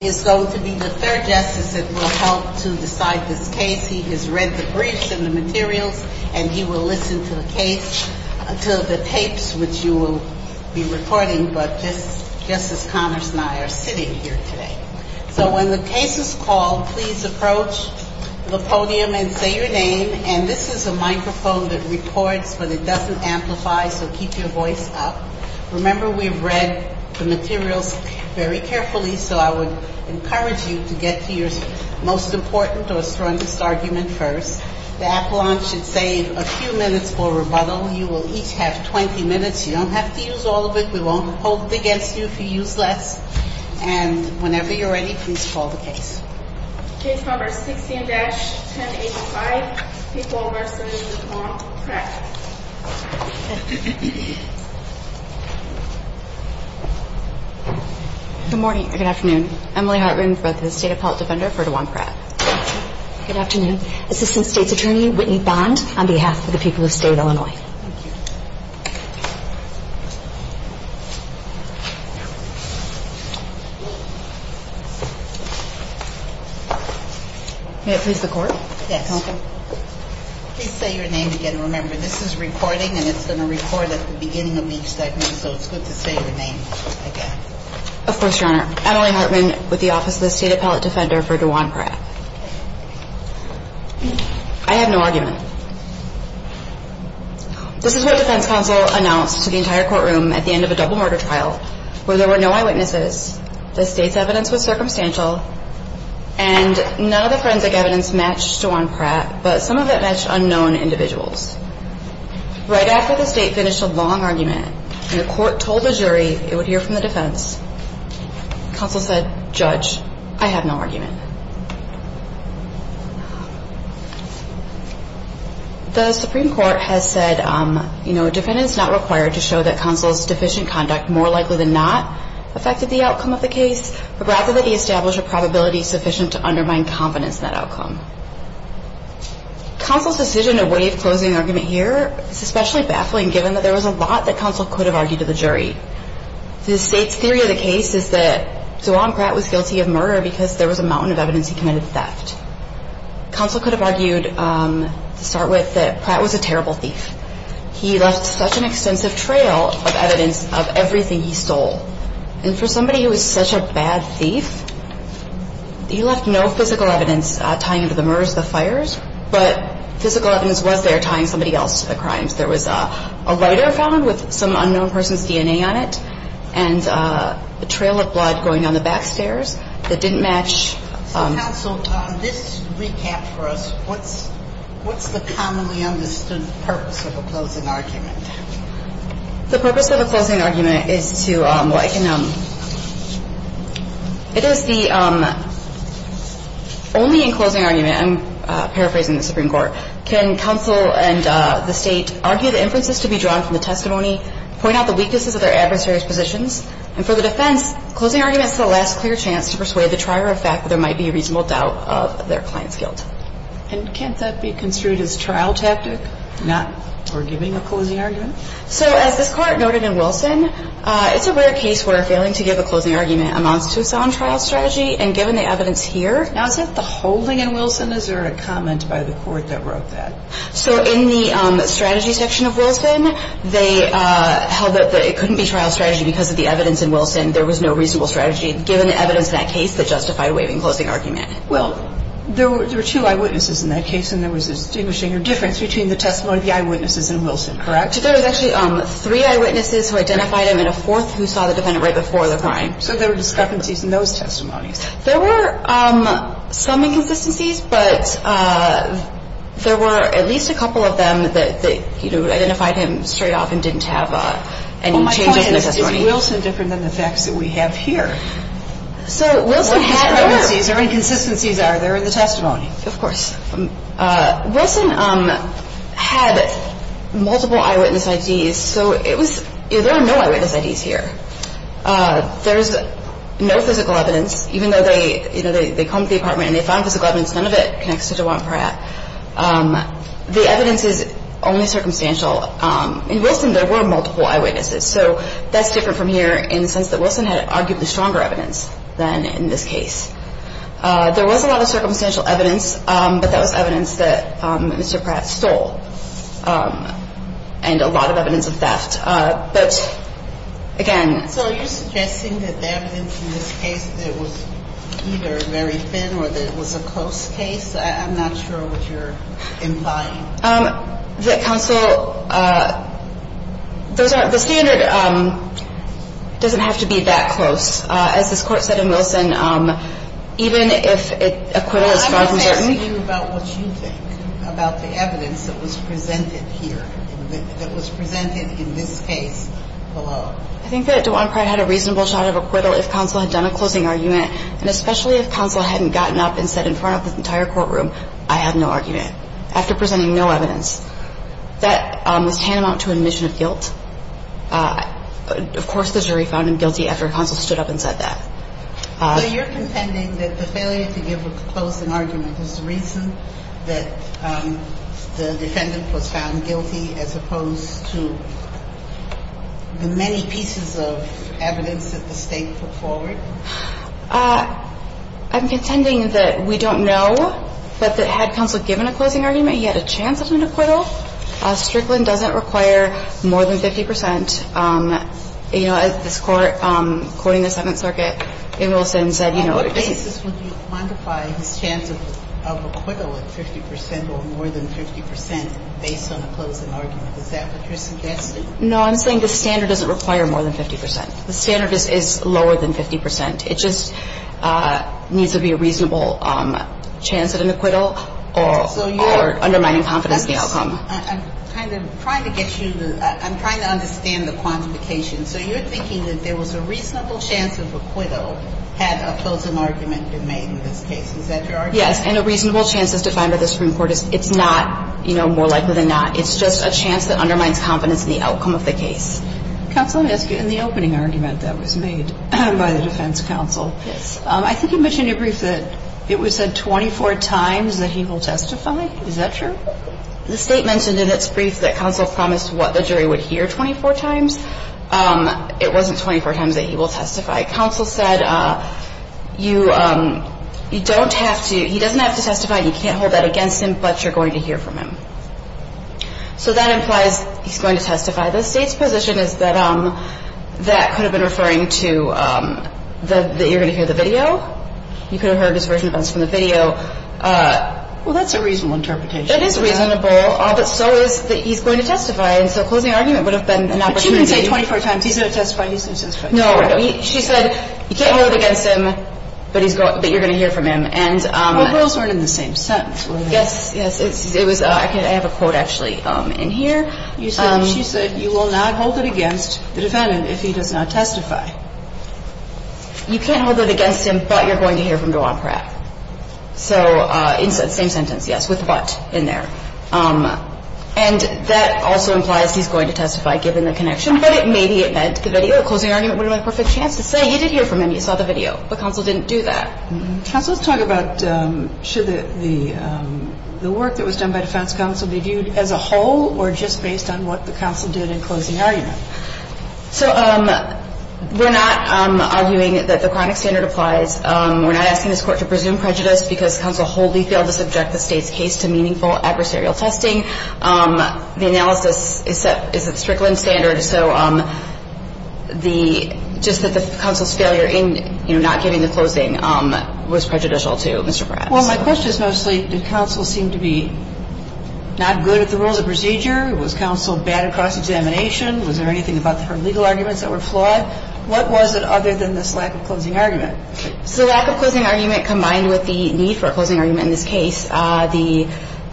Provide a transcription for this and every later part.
is going to be the third justice that will help to decide this case. He has read the briefs and the materials, and he will listen to the tapes which you will be recording, but just as Connors and I are sitting here today. So when the case is called, please approach the podium and say your name. And this is a microphone that records, but it doesn't amplify, so keep your voice up. Remember, we've read the materials very carefully, so I would encourage you to do that. Thank you. I would encourage you to get to your most important or strongest argument first. The appellant should save a few minutes for rebuttal. You will each have 20 minutes. You don't have to use all of it. We won't hold it against you if you use less. And whenever you're ready, please call the case. Case number 16-1085. People v. DeJuan Pratt. Good morning, or good afternoon. Emily Hartman for the State Appellate Defender for DeJuan Pratt. Good afternoon. Assistant State's Attorney Whitney Bond on behalf of the people of State Illinois. May it please the Court? Yes. Okay. Please say your name again. Remember, this is recording, and it's going to record at the beginning of each segment, so it's good to say your name again. Of course, Your Honor. Emily Hartman with the Office of the State Appellate Defender for DeJuan Pratt. I have no argument. This is what defense counsel announced to the entire courtroom at the end of a double murder trial, where there were no eyewitnesses, the State's evidence was circumstantial, and none of the forensic evidence matched DeJuan Pratt, but some of it matched unknown individuals. Right after the State finished a long argument, and the Court told the jury it would hear from the defense, counsel said, Judge, I have no argument. The Supreme Court has said, you know, a defendant is not required to show that counsel's deficient conduct more likely than not affected the outcome of the case, but rather that he establish a probability sufficient to undermine confidence in that outcome. Counsel's decision to waive closing argument here is especially baffling, given that there was a lot that counsel could have argued to the jury. The State's theory of the case is that DeJuan Pratt was guilty of murder because there was a mountain of evidence he committed theft. Counsel could have argued, to start with, that Pratt was a terrible thief. He left such an extensive trail of evidence of everything he stole. And for somebody who was such a bad thief, he left no physical evidence tying him to the murders, the fires, but physical evidence was there tying somebody else to the crimes. There was a lighter found with some unknown person's DNA on it, and a trail of blood going down the back stairs that didn't match. So counsel, this recap for us, what's the commonly understood purpose of a closing argument? The purpose of a closing argument is to, well, I can, it is the, only in closing argument, I'm paraphrasing the Supreme Court, can counsel and the State argue the inferences to be drawn from the testimony, point out the weaknesses of their adversaries' positions. And for the defense, closing argument is the last clear chance to persuade the trier of fact that there might be a reasonable doubt of their client's guilt. And can't that be construed as trial tactic, not for giving a closing argument? So as this Court noted in Wilson, it's a rare case where failing to give a closing argument amounts to a silent trial strategy. And given the evidence here, now is it the holding in Wilson, is there a comment by the Court that wrote that? So in the strategy section of Wilson, they held that it couldn't be trial strategy because of the evidence in Wilson. There was no reasonable strategy given the evidence in that case that justified waiving closing argument. Well, there were two eyewitnesses in that case, and there was a distinguishing difference between the testimony of the eyewitnesses and Wilson, correct? There was actually three eyewitnesses who identified him and a fourth who saw the defendant right before the crime. So there were discrepancies in those testimonies. There were some inconsistencies, but there were at least a couple of them that, you know, identified him straight off and didn't have any changes in the testimony. Well, my point is, is Wilson different than the facts that we have here? So Wilson had more. What discrepancies or inconsistencies are there in the testimony? Of course. Wilson had multiple eyewitness IDs, so it was – there were no eyewitness IDs here. There's no physical evidence. Even though they, you know, they combed the apartment and they found physical evidence, none of it connects to DeJuan Pratt. The evidence is only circumstantial. In Wilson, there were multiple eyewitnesses, so that's different from here in the sense that Wilson had arguably stronger evidence than in this case. There was a lot of circumstantial evidence, but that was evidence that Mr. Pratt stole and a lot of evidence of theft. But, again – So are you suggesting that the evidence in this case that it was either very thin or that it was a close case? I'm not sure what you're implying. The counsel – the standard doesn't have to be that close. As this Court said in Wilson, even if acquittal is far from certain – I think that DeJuan Pratt had a reasonable shot of acquittal if counsel had done a closing argument, and especially if counsel hadn't gotten up and said in front of the entire courtroom, I had no argument, after presenting no evidence. That was tantamount to admission of guilt. Of course, the jury found him guilty after counsel stood up and said that. So you're contending that the failure to give a closing argument is the reason that the defendant was found guilty as opposed to the many pieces of evidence that the State put forward? I'm contending that we don't know, but that had counsel given a closing argument, he had a chance of an acquittal. Strickland doesn't require more than 50 percent. You know, this Court, quoting the Seventh Circuit in Wilson, said, you know – On what basis would you quantify his chance of acquittal at 50 percent or more than 50 percent based on a closing argument? Is that what you're suggesting? No, I'm saying the standard doesn't require more than 50 percent. The standard is lower than 50 percent. It just needs to be a reasonable chance at an acquittal or undermining confidence in the outcome. I'm kind of trying to get you to – I'm trying to understand the quantification. So you're thinking that there was a reasonable chance of acquittal had a closing argument been made in this case. Is that your argument? Yes, and a reasonable chance is defined by the Supreme Court. It's not, you know, more likely than not. It's just a chance that undermines confidence in the outcome of the case. Counsel, let me ask you, in the opening argument that was made by the defense counsel, I think you mentioned in your brief that it was said 24 times that he will testify. Is that true? The State mentioned in its brief that counsel promised what the jury would hear 24 times. It wasn't 24 times that he will testify. Counsel said you don't have to – he doesn't have to testify. You can't hold that against him, but you're going to hear from him. So that implies he's going to testify. The State's position is that that could have been referring to that you're going to hear the video. You could have heard his version of this from the video. Well, that's a reasonable interpretation. It is reasonable, but so is that he's going to testify. And so a closing argument would have been an opportunity. But you didn't say 24 times he's going to testify, he's going to testify. No. She said you can't hold it against him, but you're going to hear from him. But those weren't in the same sentence, were they? Yes, yes. It was – I have a quote, actually, in here. She said you will not hold it against the defendant if he does not testify. You can't hold it against him, but you're going to hear from Dwan Pratt. So it's the same sentence, yes, with but in there. And that also implies he's going to testify, given the connection. But maybe it meant the video. A closing argument would have been a perfect chance to say you did hear from him, you saw the video, but counsel didn't do that. Counsel, let's talk about should the work that was done by defense counsel be viewed as a whole or just based on what the counsel did in closing argument. So we're not arguing that the chronic standard applies. We're not asking this Court to presume prejudice because counsel wholly failed to subject the State's case to meaningful adversarial testing. The analysis is a Strickland standard. So the – just that the counsel's failure in, you know, not giving the closing was prejudicial to Mr. Pratt. Well, my question is mostly did counsel seem to be not good at the rules of procedure? Was counsel bad at cross-examination? Was there anything about her legal arguments that were flawed? What was it other than this lack of closing argument? So the lack of closing argument combined with the need for a closing argument in this case, the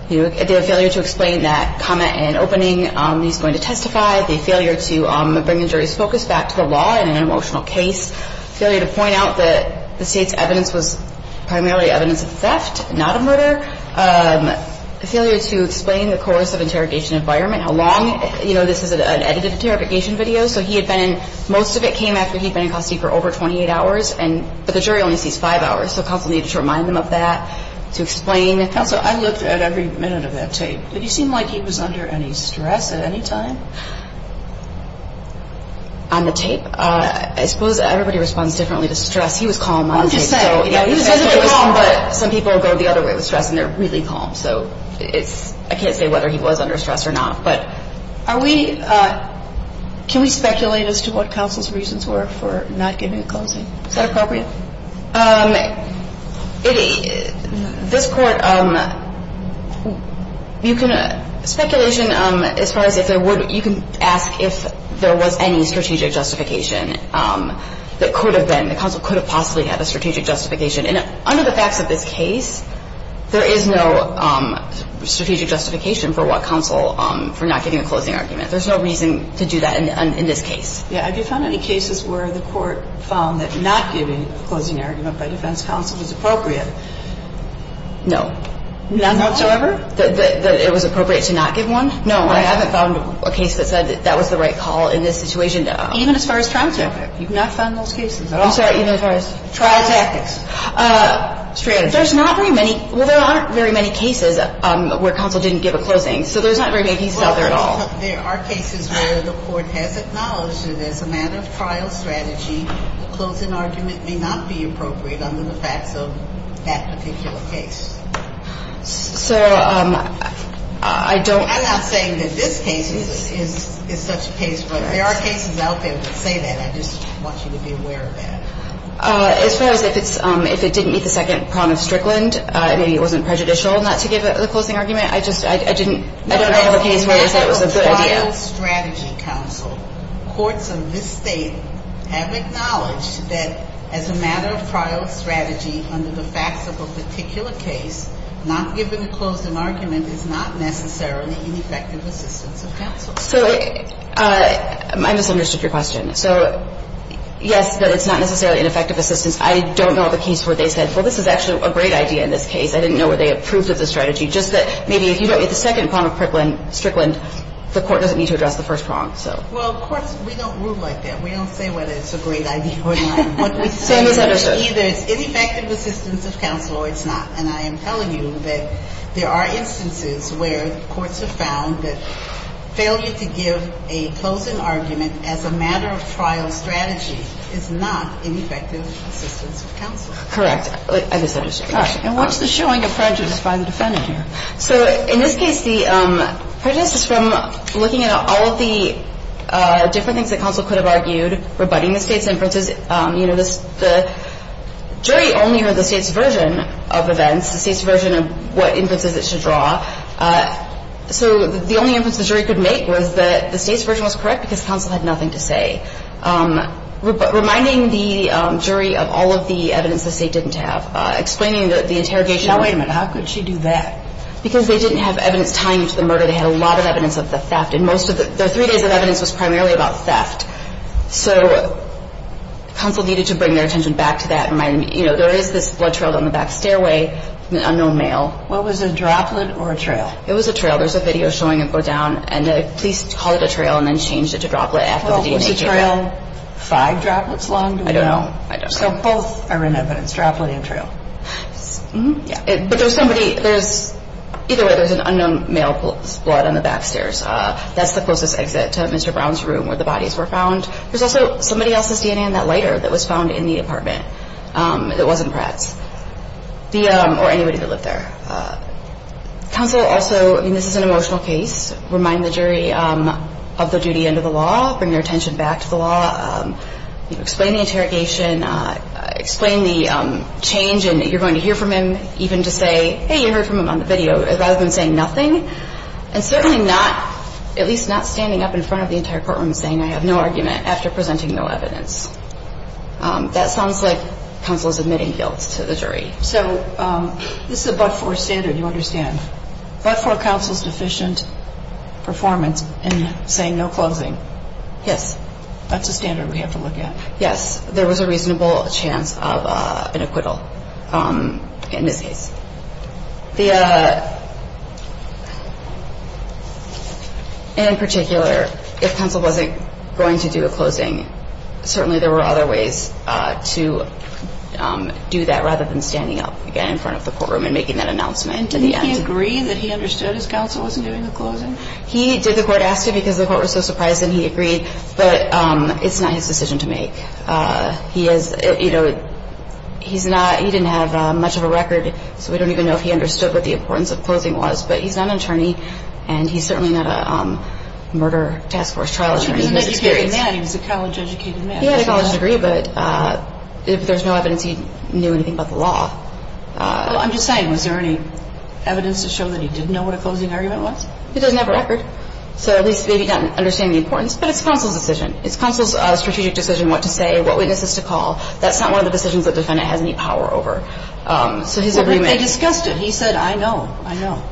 failure to explain that comment in opening he's going to testify, the failure to bring the jury's focus back to the law in an emotional case, failure to point out that the State's evidence was primarily evidence of theft, not a murder, failure to explain the course of interrogation environment, how long. You know, this is an edited interrogation video, so he had been in – most of it came after he'd been in custody for over 28 hours, but the jury only sees five hours. So counsel needed to remind him of that to explain. Counsel, I looked at every minute of that tape. Did he seem like he was under any stress at any time? On the tape? I suppose everybody responds differently to stress. He was calm on tape. What did you say? He was calm, but some people go the other way with stress, and they're really calm. So it's – I can't say whether he was under stress or not. But are we – can we speculate as to what counsel's reasons were for not giving a closing? Is that appropriate? This Court, you can – speculation as far as if there would – you can ask if there was any strategic justification that could have been – that counsel could have possibly had a strategic justification. And under the facts of this case, there is no strategic justification for what counsel – for not giving a closing argument. There's no reason to do that in this case. Yeah. Have you found any cases where the Court found that not giving a closing argument by defense counsel was appropriate? No. None whatsoever? That it was appropriate to not give one? No. I haven't found a case that said that that was the right call in this situation. Even as far as trial tactics? You've not found those cases at all? I'm sorry. Even as far as? Trial tactics. Strategies. There's not very many – well, there aren't very many cases where counsel didn't give a closing. So there's not very many cases out there at all. There are cases where the Court has acknowledged that as a matter of trial strategy, a closing argument may not be appropriate under the facts of that particular case. So I don't – I'm not saying that this case is such a case, but there are cases out there that say that. I just want you to be aware of that. As far as if it's – if it didn't meet the second prong of Strickland, maybe it wasn't prejudicial not to give the closing argument. I just – I didn't – I don't know of a case where they said it was a good idea. As a matter of trial strategy, counsel, courts of this State have acknowledged that as a matter of trial strategy under the facts of a particular case, not giving a closing argument is not necessarily ineffective assistance of counsel. So I misunderstood your question. So yes, that it's not necessarily ineffective assistance. I don't know of a case where they said, well, this is actually a great idea in this case. I didn't know whether they approved of the strategy, just that maybe if you don't meet the second prong of Strickland, the court doesn't need to address the first prong, so. Well, courts, we don't rule like that. We don't say whether it's a great idea or not. So I misunderstood. What we say is either it's ineffective assistance of counsel or it's not. And I am telling you that there are instances where courts have found that failure to give a closing argument as a matter of trial strategy is not ineffective assistance of counsel. Correct. I misunderstood your question. And what's the showing of prejudice by the defendant here? So in this case, the prejudice is from looking at all of the different things that counsel could have argued, rebutting the State's inferences. You know, the jury only heard the State's version of events, the State's version of what inferences it should draw. So the only inference the jury could make was that the State's version was correct because counsel had nothing to say. Reminding the jury of all of the evidence the State didn't have. Explaining the interrogation. Now, wait a minute. How could she do that? Because they didn't have evidence tying to the murder. They had a lot of evidence of the theft. And most of the three days of evidence was primarily about theft. So counsel needed to bring their attention back to that and remind them, you know, there is this blood trail down the back stairway from an unknown male. Was it a droplet or a trail? It was a trail. There's a video showing it go down. And the police called it a trail and then changed it to droplet after the DNA came out. Was the trail five droplets long? I don't know. I don't know. So both are in evidence, droplet and trail. Yeah. But there's somebody, there's, either way, there's an unknown male's blood on the back stairs. That's the closest exit to Mr. Brown's room where the bodies were found. There's also somebody else's DNA in that lighter that was found in the apartment. It wasn't Pratt's. Or anybody that lived there. Counsel also, I mean, this is an emotional case. Remind the jury of the duty under the law. Bring their attention back to the law. Explain the interrogation. Explain the change in that you're going to hear from him even to say, hey, you heard from him on the video, rather than saying nothing. And certainly not, at least not standing up in front of the entire courtroom saying I have no argument after presenting no evidence. That sounds like counsel's admitting guilt to the jury. So this is a but-for standard, you understand. But-for counsel's deficient performance in saying no closing. Yes. That's a standard we have to look at. Yes. There was a reasonable chance of an acquittal in this case. The-in particular, if counsel wasn't going to do a closing, certainly there were other ways to do that rather than standing up again in front of the courtroom and making that announcement in the end. He did the court asked him because the court was so surprised and he agreed. But it's not his decision to make. He is, you know, he's not-he didn't have much of a record, so we don't even know if he understood what the importance of closing was. But he's not an attorney, and he's certainly not a murder task force trial attorney. He was an educated man. He was a college-educated man. He had a college degree, but if there's no evidence he knew anything about the law. Well, I'm just saying, was there any evidence to show that he didn't know what a closing argument was? He doesn't have a record. So at least maybe he didn't understand the importance. But it's counsel's decision. It's counsel's strategic decision what to say, what witnesses to call. That's not one of the decisions that the defendant has any power over. So his agreement- Well, but they discussed it. He said, I know, I know.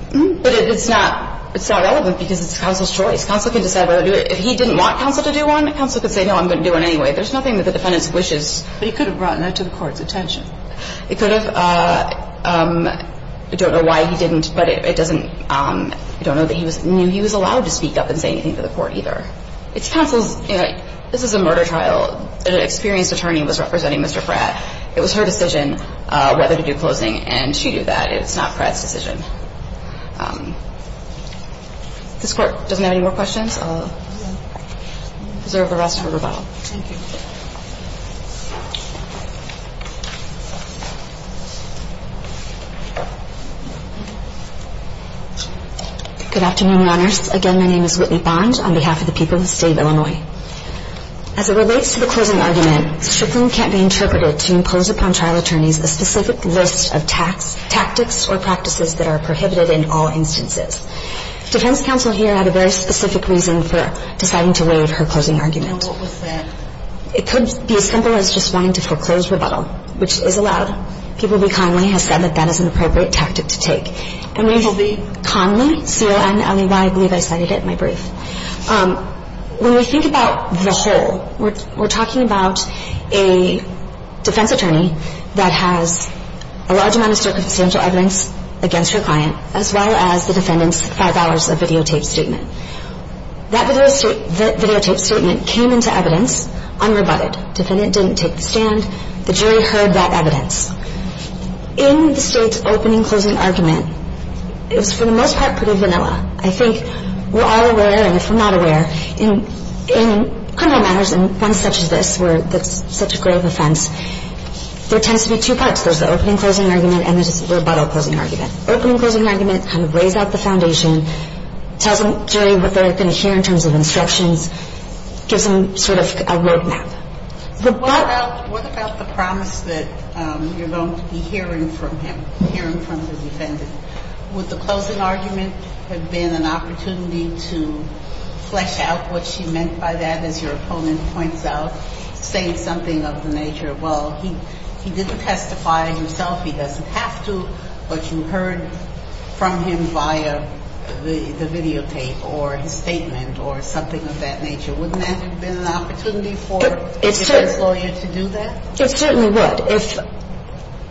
But it's not relevant because it's counsel's choice. Counsel can decide whether to do it. If he didn't want counsel to do one, counsel could say, no, I'm going to do it anyway. There's nothing that the defendant wishes. But he could have brought that to the court's attention. It could have. I don't know why he didn't. But it doesn't – I don't know that he knew he was allowed to speak up and say anything to the court either. It's counsel's – this is a murder trial. An experienced attorney was representing Mr. Fratt. It was her decision whether to do closing. And she did that. It's not Fratt's decision. If this Court doesn't have any more questions, I'll reserve the rest for rebuttal. Thank you. Good afternoon, Your Honors. Again, my name is Whitney Bond on behalf of the people of the State of Illinois. As it relates to the closing argument, strickling can't be interpreted to impose upon trial attorneys a specific list of tactics or practices that are prohibited in all instances. Defense counsel here had a very specific reason for deciding to waive her closing argument. And what was that? It could be as simple as just wanting to foreclose rebuttal, which is allowed. People Be Connolly has said that that is an appropriate tactic to take. And we – People Be Connolly, C-O-N-L-E-Y, I believe I cited it in my brief. When we think about the whole, we're talking about a defense attorney that has a large amount of circumstantial evidence against her client, as well as the defendant's five hours of videotaped statement. That videotaped statement came into evidence unrebutted. Defendant didn't take the stand. The jury heard that evidence. In the State's opening closing argument, it was for the most part pretty vanilla. I think we're all aware, and if we're not aware, in criminal matters and ones such as this where it's such a grave offense, there tends to be two parts. There's the opening closing argument and there's the rebuttal closing argument. Opening closing argument kind of lays out the foundation, tells the jury what they're going to hear in terms of instructions, gives them sort of a roadmap. What about the promise that you're going to be hearing from him, hearing from the defendant? Would the closing argument have been an opportunity to flesh out what she meant by that? As your opponent points out, saying something of the nature, well, he didn't testify himself. He doesn't have to, but you heard from him via the videotape or his statement or something of that nature. Wouldn't that have been an opportunity for the defense lawyer to do that? It certainly would.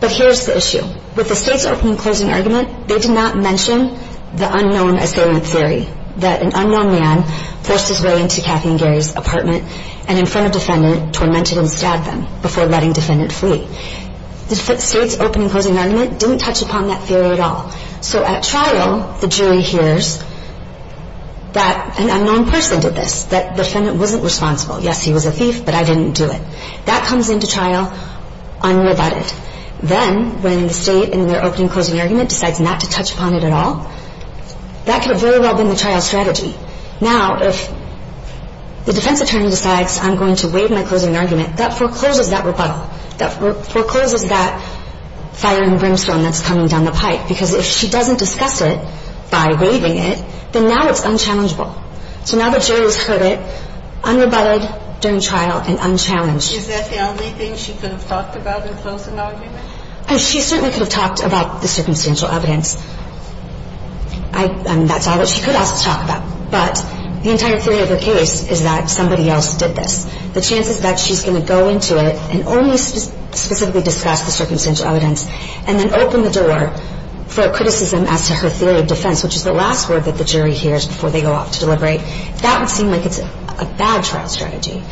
But here's the issue. With the State's opening closing argument, they did not mention the unknown assailant theory, that an unknown man forced his way into Kathy and Gary's apartment and in front of defendant, tormented and stabbed them before letting defendant flee. The State's opening closing argument didn't touch upon that theory at all. So at trial, the jury hears that an unknown person did this, that defendant wasn't responsible. Yes, he was a thief, but I didn't do it. That comes into trial unrebutted. Then when the State in their opening closing argument decides not to touch upon it at all, that could have very well been the trial strategy. Now if the defense attorney decides I'm going to waive my closing argument, that forecloses that rebuttal. That forecloses that fire and brimstone that's coming down the pipe because if she doesn't discuss it by waiving it, then now it's unchallengeable. So now the jury has heard it unrebutted during trial and unchallenged. Is that the only thing she could have talked about in closing argument? She certainly could have talked about the circumstantial evidence. That's all that she could also talk about. But the entire theory of her case is that somebody else did this. The chance is that she's going to go into it and only specifically discuss the circumstantial evidence and then open the door for criticism as to her theory of defense, which is the last word that the jury hears before they go off to deliberate. That would seem like it's a bad trial strategy.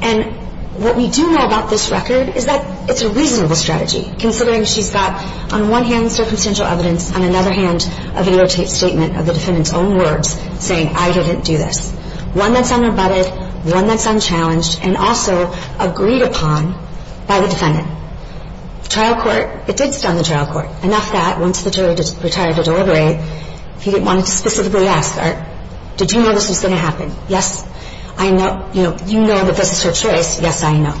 And what we do know about this record is that it's a reasonable strategy considering she's got on one hand circumstantial evidence, on another hand a videotaped statement of the defendant's own words saying I didn't do this. One that's unrebutted, one that's unchallenged, and also agreed upon by the defendant. The trial court, it did stun the trial court enough that once the jury retired to deliberate, he didn't want to specifically ask, did you know this was going to happen? Yes, I know. You know that this is her choice. Yes, I know.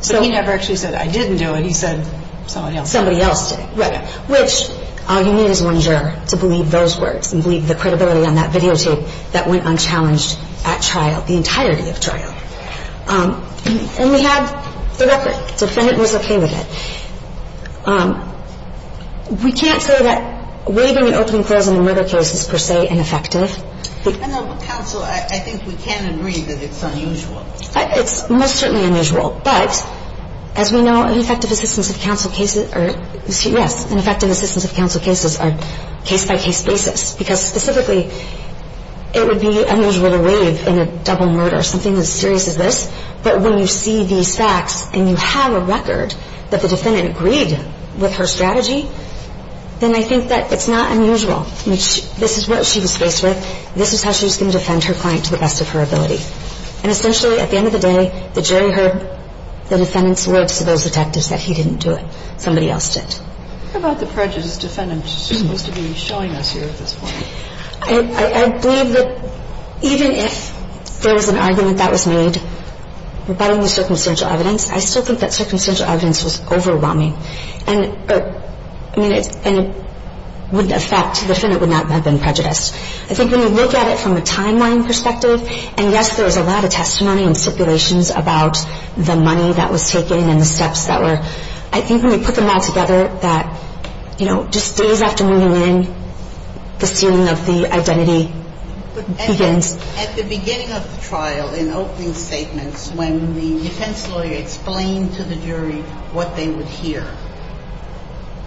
So he never actually said I didn't do it. He said somebody else did. Somebody else did. Right. Which all you need is one juror to believe those words and believe the credibility on that videotape that went unchallenged at trial, the entirety of trial. And we have the record. The defendant was okay with it. We can't say that waiving an opening clause in a murder case is per se ineffective. Depending on the counsel, I think we can agree that it's unusual. It's most certainly unusual. But as we know, ineffective assistance of counsel cases are, yes, ineffective assistance of counsel cases are case-by-case basis, because specifically it would be unusual to waive in a double murder, something as serious as this, but when you see these facts and you have a record that the defendant agreed with her strategy, then I think that it's not unusual. This is what she was faced with. This is how she was going to defend her client to the best of her ability. And essentially, at the end of the day, the jury heard the defendant's words to those detectives that he didn't do it. Somebody else did. What about the prejudice the defendant is supposed to be showing us here at this point? I believe that even if there was an argument that was made rebutting the circumstantial evidence, I still think that circumstantial evidence was overwhelming. And it wouldn't affect the defendant would not have been prejudiced. I think when you look at it from a timeline perspective, and, yes, there is a lot of testimony and stipulations about the money that was taken and the steps that were, I think when you put them all together, that just days after moving in, the sealing of the identity begins. At the beginning of the trial, in opening statements, when the defense lawyer explained to the jury what they would hear,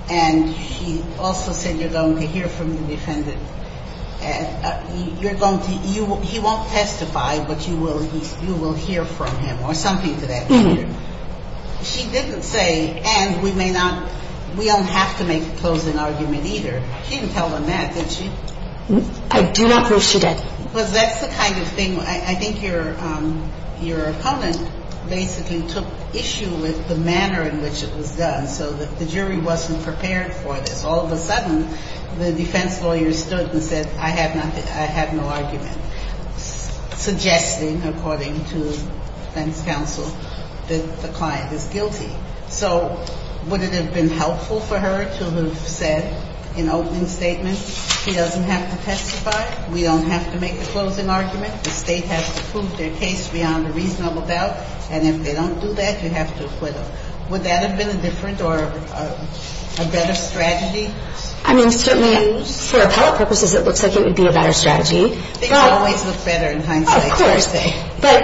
and she also said you're going to hear from the defendant, he won't testify, but you will hear from him or something to that extent. She didn't say, and we may not, we don't have to make a closing argument either. She didn't tell them that. I do not believe she did. Because that's the kind of thing I think your opponent basically took issue with, the manner in which it was done. So the jury wasn't prepared for this. All of a sudden, the defense lawyer stood and said I have no argument, suggesting, according to defense counsel, that the client is guilty. So would it have been helpful for her to have said in opening statements, he doesn't have to testify, we don't have to make a closing argument, the State has to prove their case beyond a reasonable doubt, and if they don't do that, you have to acquit them. Would that have been a different or a better strategy? I mean, certainly for appellate purposes, it looks like it would be a better strategy. Things always look better in hindsight. Of course. But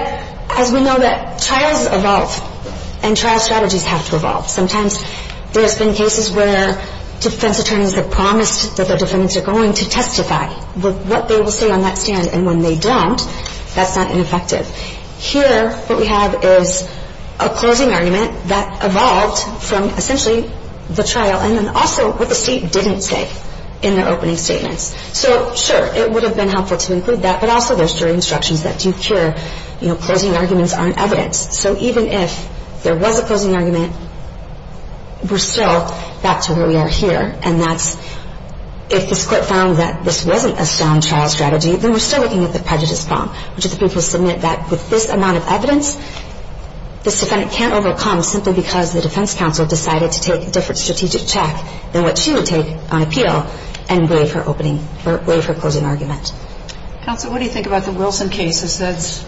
as we know that trials evolve, and trial strategies have to evolve. Sometimes there's been cases where defense attorneys have promised that their defendants are going to testify with what they will say on that stand, and when they don't, that's not ineffective. Here what we have is a closing argument that evolved from essentially the trial and then also what the State didn't say in their opening statements. So, sure, it would have been helpful to include that, but also there's jury instructions that do cure, you know, closing arguments aren't evidence. So even if there was a closing argument, we're still back to where we are here, and that's if this Court found that this wasn't a sound trial strategy, then we're still looking at the prejudice bomb, which is the people submit that with this amount of evidence, this defendant can't overcome simply because the defense counsel decided to take a different strategic check than what she would take on appeal and waive her opening or waive her closing argument. Counsel, what do you think about the Wilson case that says,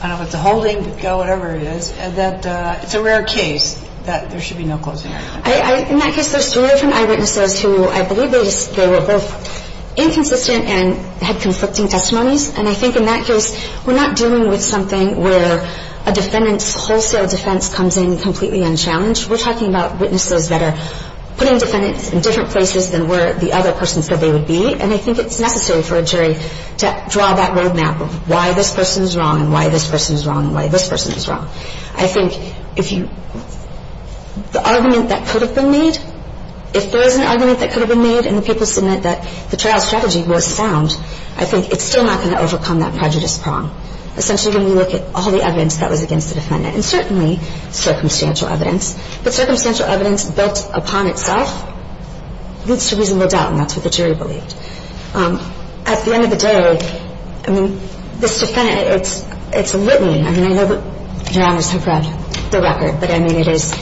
I don't know if it's a holding, whatever it is, that it's a rare case that there should be no closing argument? In that case, there's three different eyewitnesses who I believe they were both inconsistent and had conflicting testimonies, and I think in that case, we're not dealing with something where a defendant's wholesale defense comes in completely unchallenged. We're talking about witnesses that are putting defendants in different places than where the other person said they would be, and I think it's necessary for a jury to draw that road map of why this person is wrong and why this person is wrong and why this person is wrong. I think if you – the argument that could have been made, if there is an argument that could have been made and the people submit that the trial strategy was sound, I think it's still not going to overcome that prejudice prong. Essentially, when we look at all the evidence that was against the defendant, and certainly circumstantial evidence, but circumstantial evidence built upon itself leads to reasonable doubt, and that's what the jury believed. At the end of the day, I mean, this defendant, it's a litany. I mean, I know the jurors have read the record, but, I mean, it is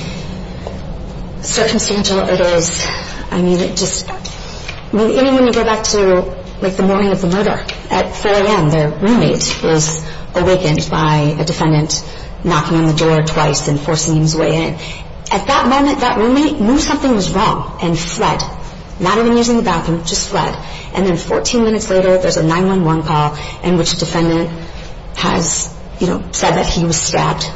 circumstantial. It is – I mean, it just – I mean, even when you go back to, like, the morning of the murder, at 4 a.m., their roommate was awakened by a defendant knocking on the door twice and forcing his way in. At that moment, that roommate knew something was wrong and fled, not even using the bathroom, just fled. And then 14 minutes later, there's a 911 call in which a defendant has, you know, said that he was stabbed.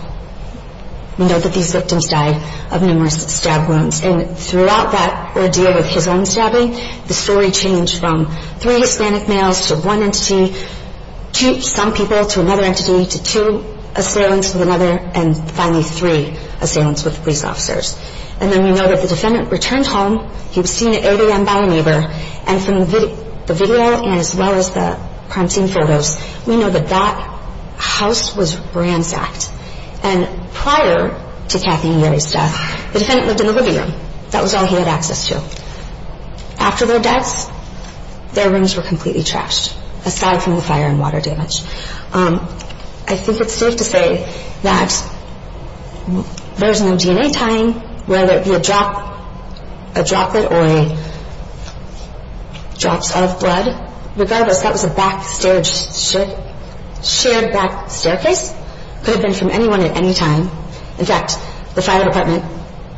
We know that these victims died of numerous stab wounds. And throughout that ordeal of his own stabbing, the story changed from three Hispanic males to one entity, some people to another entity, to two assailants with another, and finally three assailants with police officers. And then we know that the defendant returned home. He was seen at 8 a.m. by a neighbor. And from the video and as well as the crime scene photos, we know that that house was ransacked. And prior to Kathy and Gary's death, the defendant lived in the living room. That was all he had access to. After their deaths, their rooms were completely trashed, aside from the fire and water damage. I think it's safe to say that there was no DNA tying, whether it be a droplet or drops of blood. Regardless, that was a shared back staircase. It could have been from anyone at any time. In fact, the fire department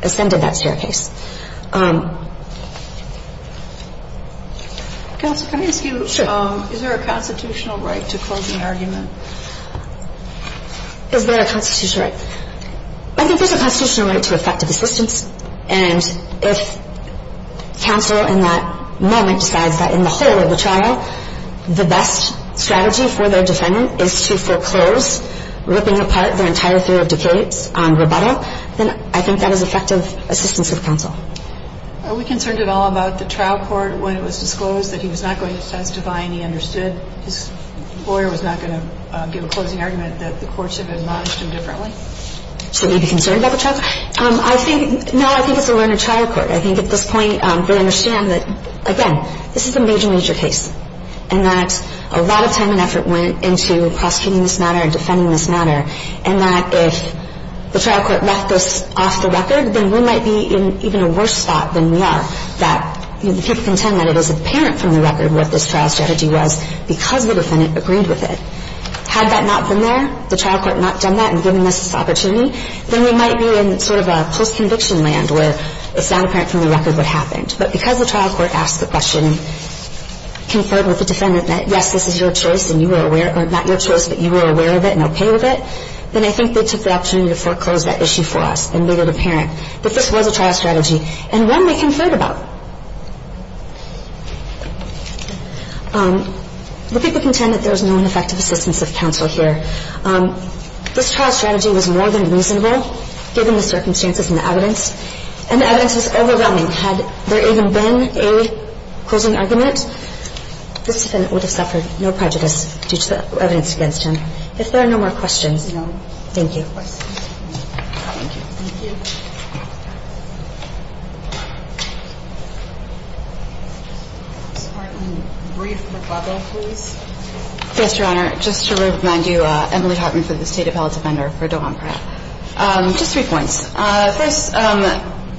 ascended that staircase. Counsel, can I ask you, is there a constitutional right to close an argument? Is there a constitutional right? I think there's a constitutional right to effective assistance. And if counsel in that moment decides that in the whole of the trial, the best strategy for their defendant is to foreclose, ripping apart their entire theory of decades on rebuttal, then I think that is effective assistance of counsel. Are we concerned at all about the trial court when it was disclosed that he was not going to testify and he understood his lawyer was not going to give a closing argument, that the courts have admonished him differently? Should we be concerned about the trial court? No, I think it's a learned trial court. I think at this point they understand that, again, this is a major, major case, and that a lot of time and effort went into prosecuting this matter and defending this matter, and that if the trial court left this off the record, then we might be in even a worse spot than we are, that the people can tell that it is apparent from the record what this trial strategy was because the defendant agreed with it. Had that not been there, the trial court not done that and given us this opportunity, then we might be in sort of a post-conviction land where it's not apparent from the record what happened. But because the trial court asked the question, conferred with the defendant that, yes, this is your choice and you were aware of it or not your choice, but you were aware of it and okay with it, then I think they took the opportunity to foreclose that issue for us and made it apparent that this was a trial strategy and one we can fret about. The people contend that there was no effective assistance of counsel here. This trial strategy was more than reasonable given the circumstances and the evidence, and the evidence was overwhelming. Had there even been a closing argument, this defendant would have suffered no prejudice due to the evidence against him. If there are no more questions. No. Thank you. Thank you. Thank you. Ms. Hartman, brief rebuttal, please. Yes, Your Honor. Just to remind you, Emily Hartman from the State Appellate Defender for Dohan Pratt. Just three points. First,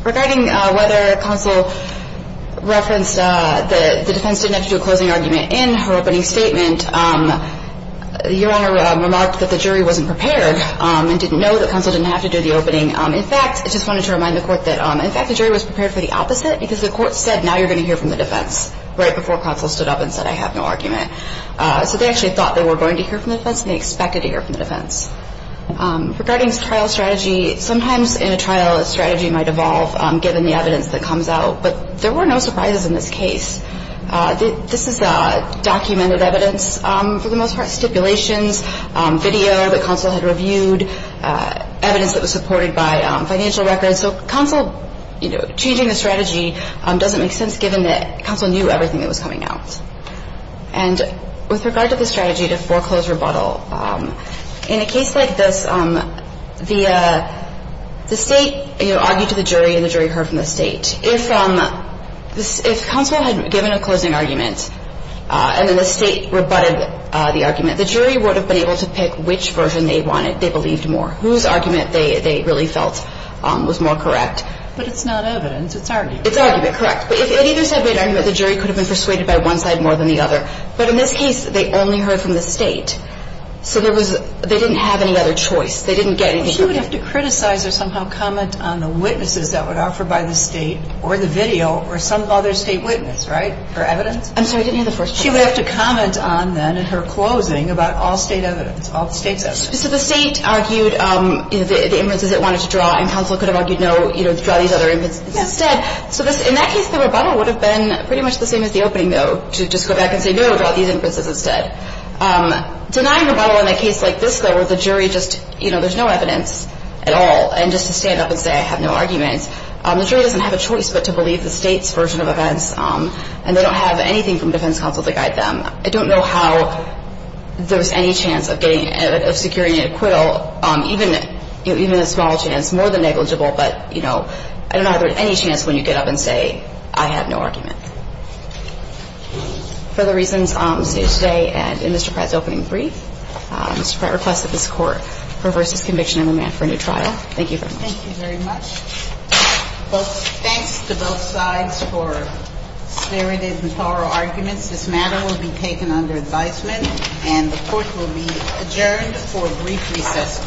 regarding whether counsel referenced that the defense didn't have to do a closing argument in her opening statement, Your Honor remarked that the jury wasn't prepared and didn't know that counsel didn't have to do the opening. In fact, I just wanted to remind the Court that, in fact, the jury was prepared for the opposite because the Court said, now you're going to hear from the defense right before counsel stood up and said, I have no argument. So they actually thought they were going to hear from the defense and they expected to hear from the defense. Regarding trial strategy, sometimes in a trial, a strategy might evolve given the evidence that comes out, but there were no surprises in this case. This is documented evidence, for the most part, stipulations, video that counsel had reviewed, evidence that was supported by financial records. So counsel, you know, changing the strategy doesn't make sense given that counsel knew everything that was coming out. And with regard to the strategy to foreclose rebuttal, in a case like this, the State argued to the jury and the jury heard from the State. And if counsel had given a closing argument and then the State rebutted the argument, the jury would have been able to pick which version they wanted. They believed more. Whose argument they really felt was more correct. But it's not evidence. It's argument. It's argument, correct. But if either side made argument, the jury could have been persuaded by one side more than the other. But in this case, they only heard from the State. So there was they didn't have any other choice. They didn't get anything from the State. Well, she would have to criticize or somehow comment on the witnesses that were offered by the State or the video or some other State witness, right, for evidence? I'm sorry, I didn't hear the first part. She would have to comment on then in her closing about all State evidence, all the State's evidence. So the State argued the inferences it wanted to draw, and counsel could have argued no, you know, draw these other inferences instead. So in that case, the rebuttal would have been pretty much the same as the opening, though, to just go back and say no, draw these inferences instead. Denying rebuttal in a case like this, though, where the jury just, you know, there's no evidence at all, and just to stand up and say I have no argument, the jury doesn't have a choice but to believe the State's version of events, and they don't have anything from defense counsel to guide them. I don't know how there was any chance of getting, of securing an acquittal, even a small chance, more than negligible, but, you know, I don't know how there was any chance when you get up and say I have no argument. Further reasons stated today and in Mr. Pratt's opening brief, Mr. Pratt requested that this Court reverse his conviction and remand for a new trial. Thank you very much. Thank you very much. Thanks to both sides for spirited and thorough arguments. This matter will be taken under advisement, and the Court will be adjourned for a brief recess.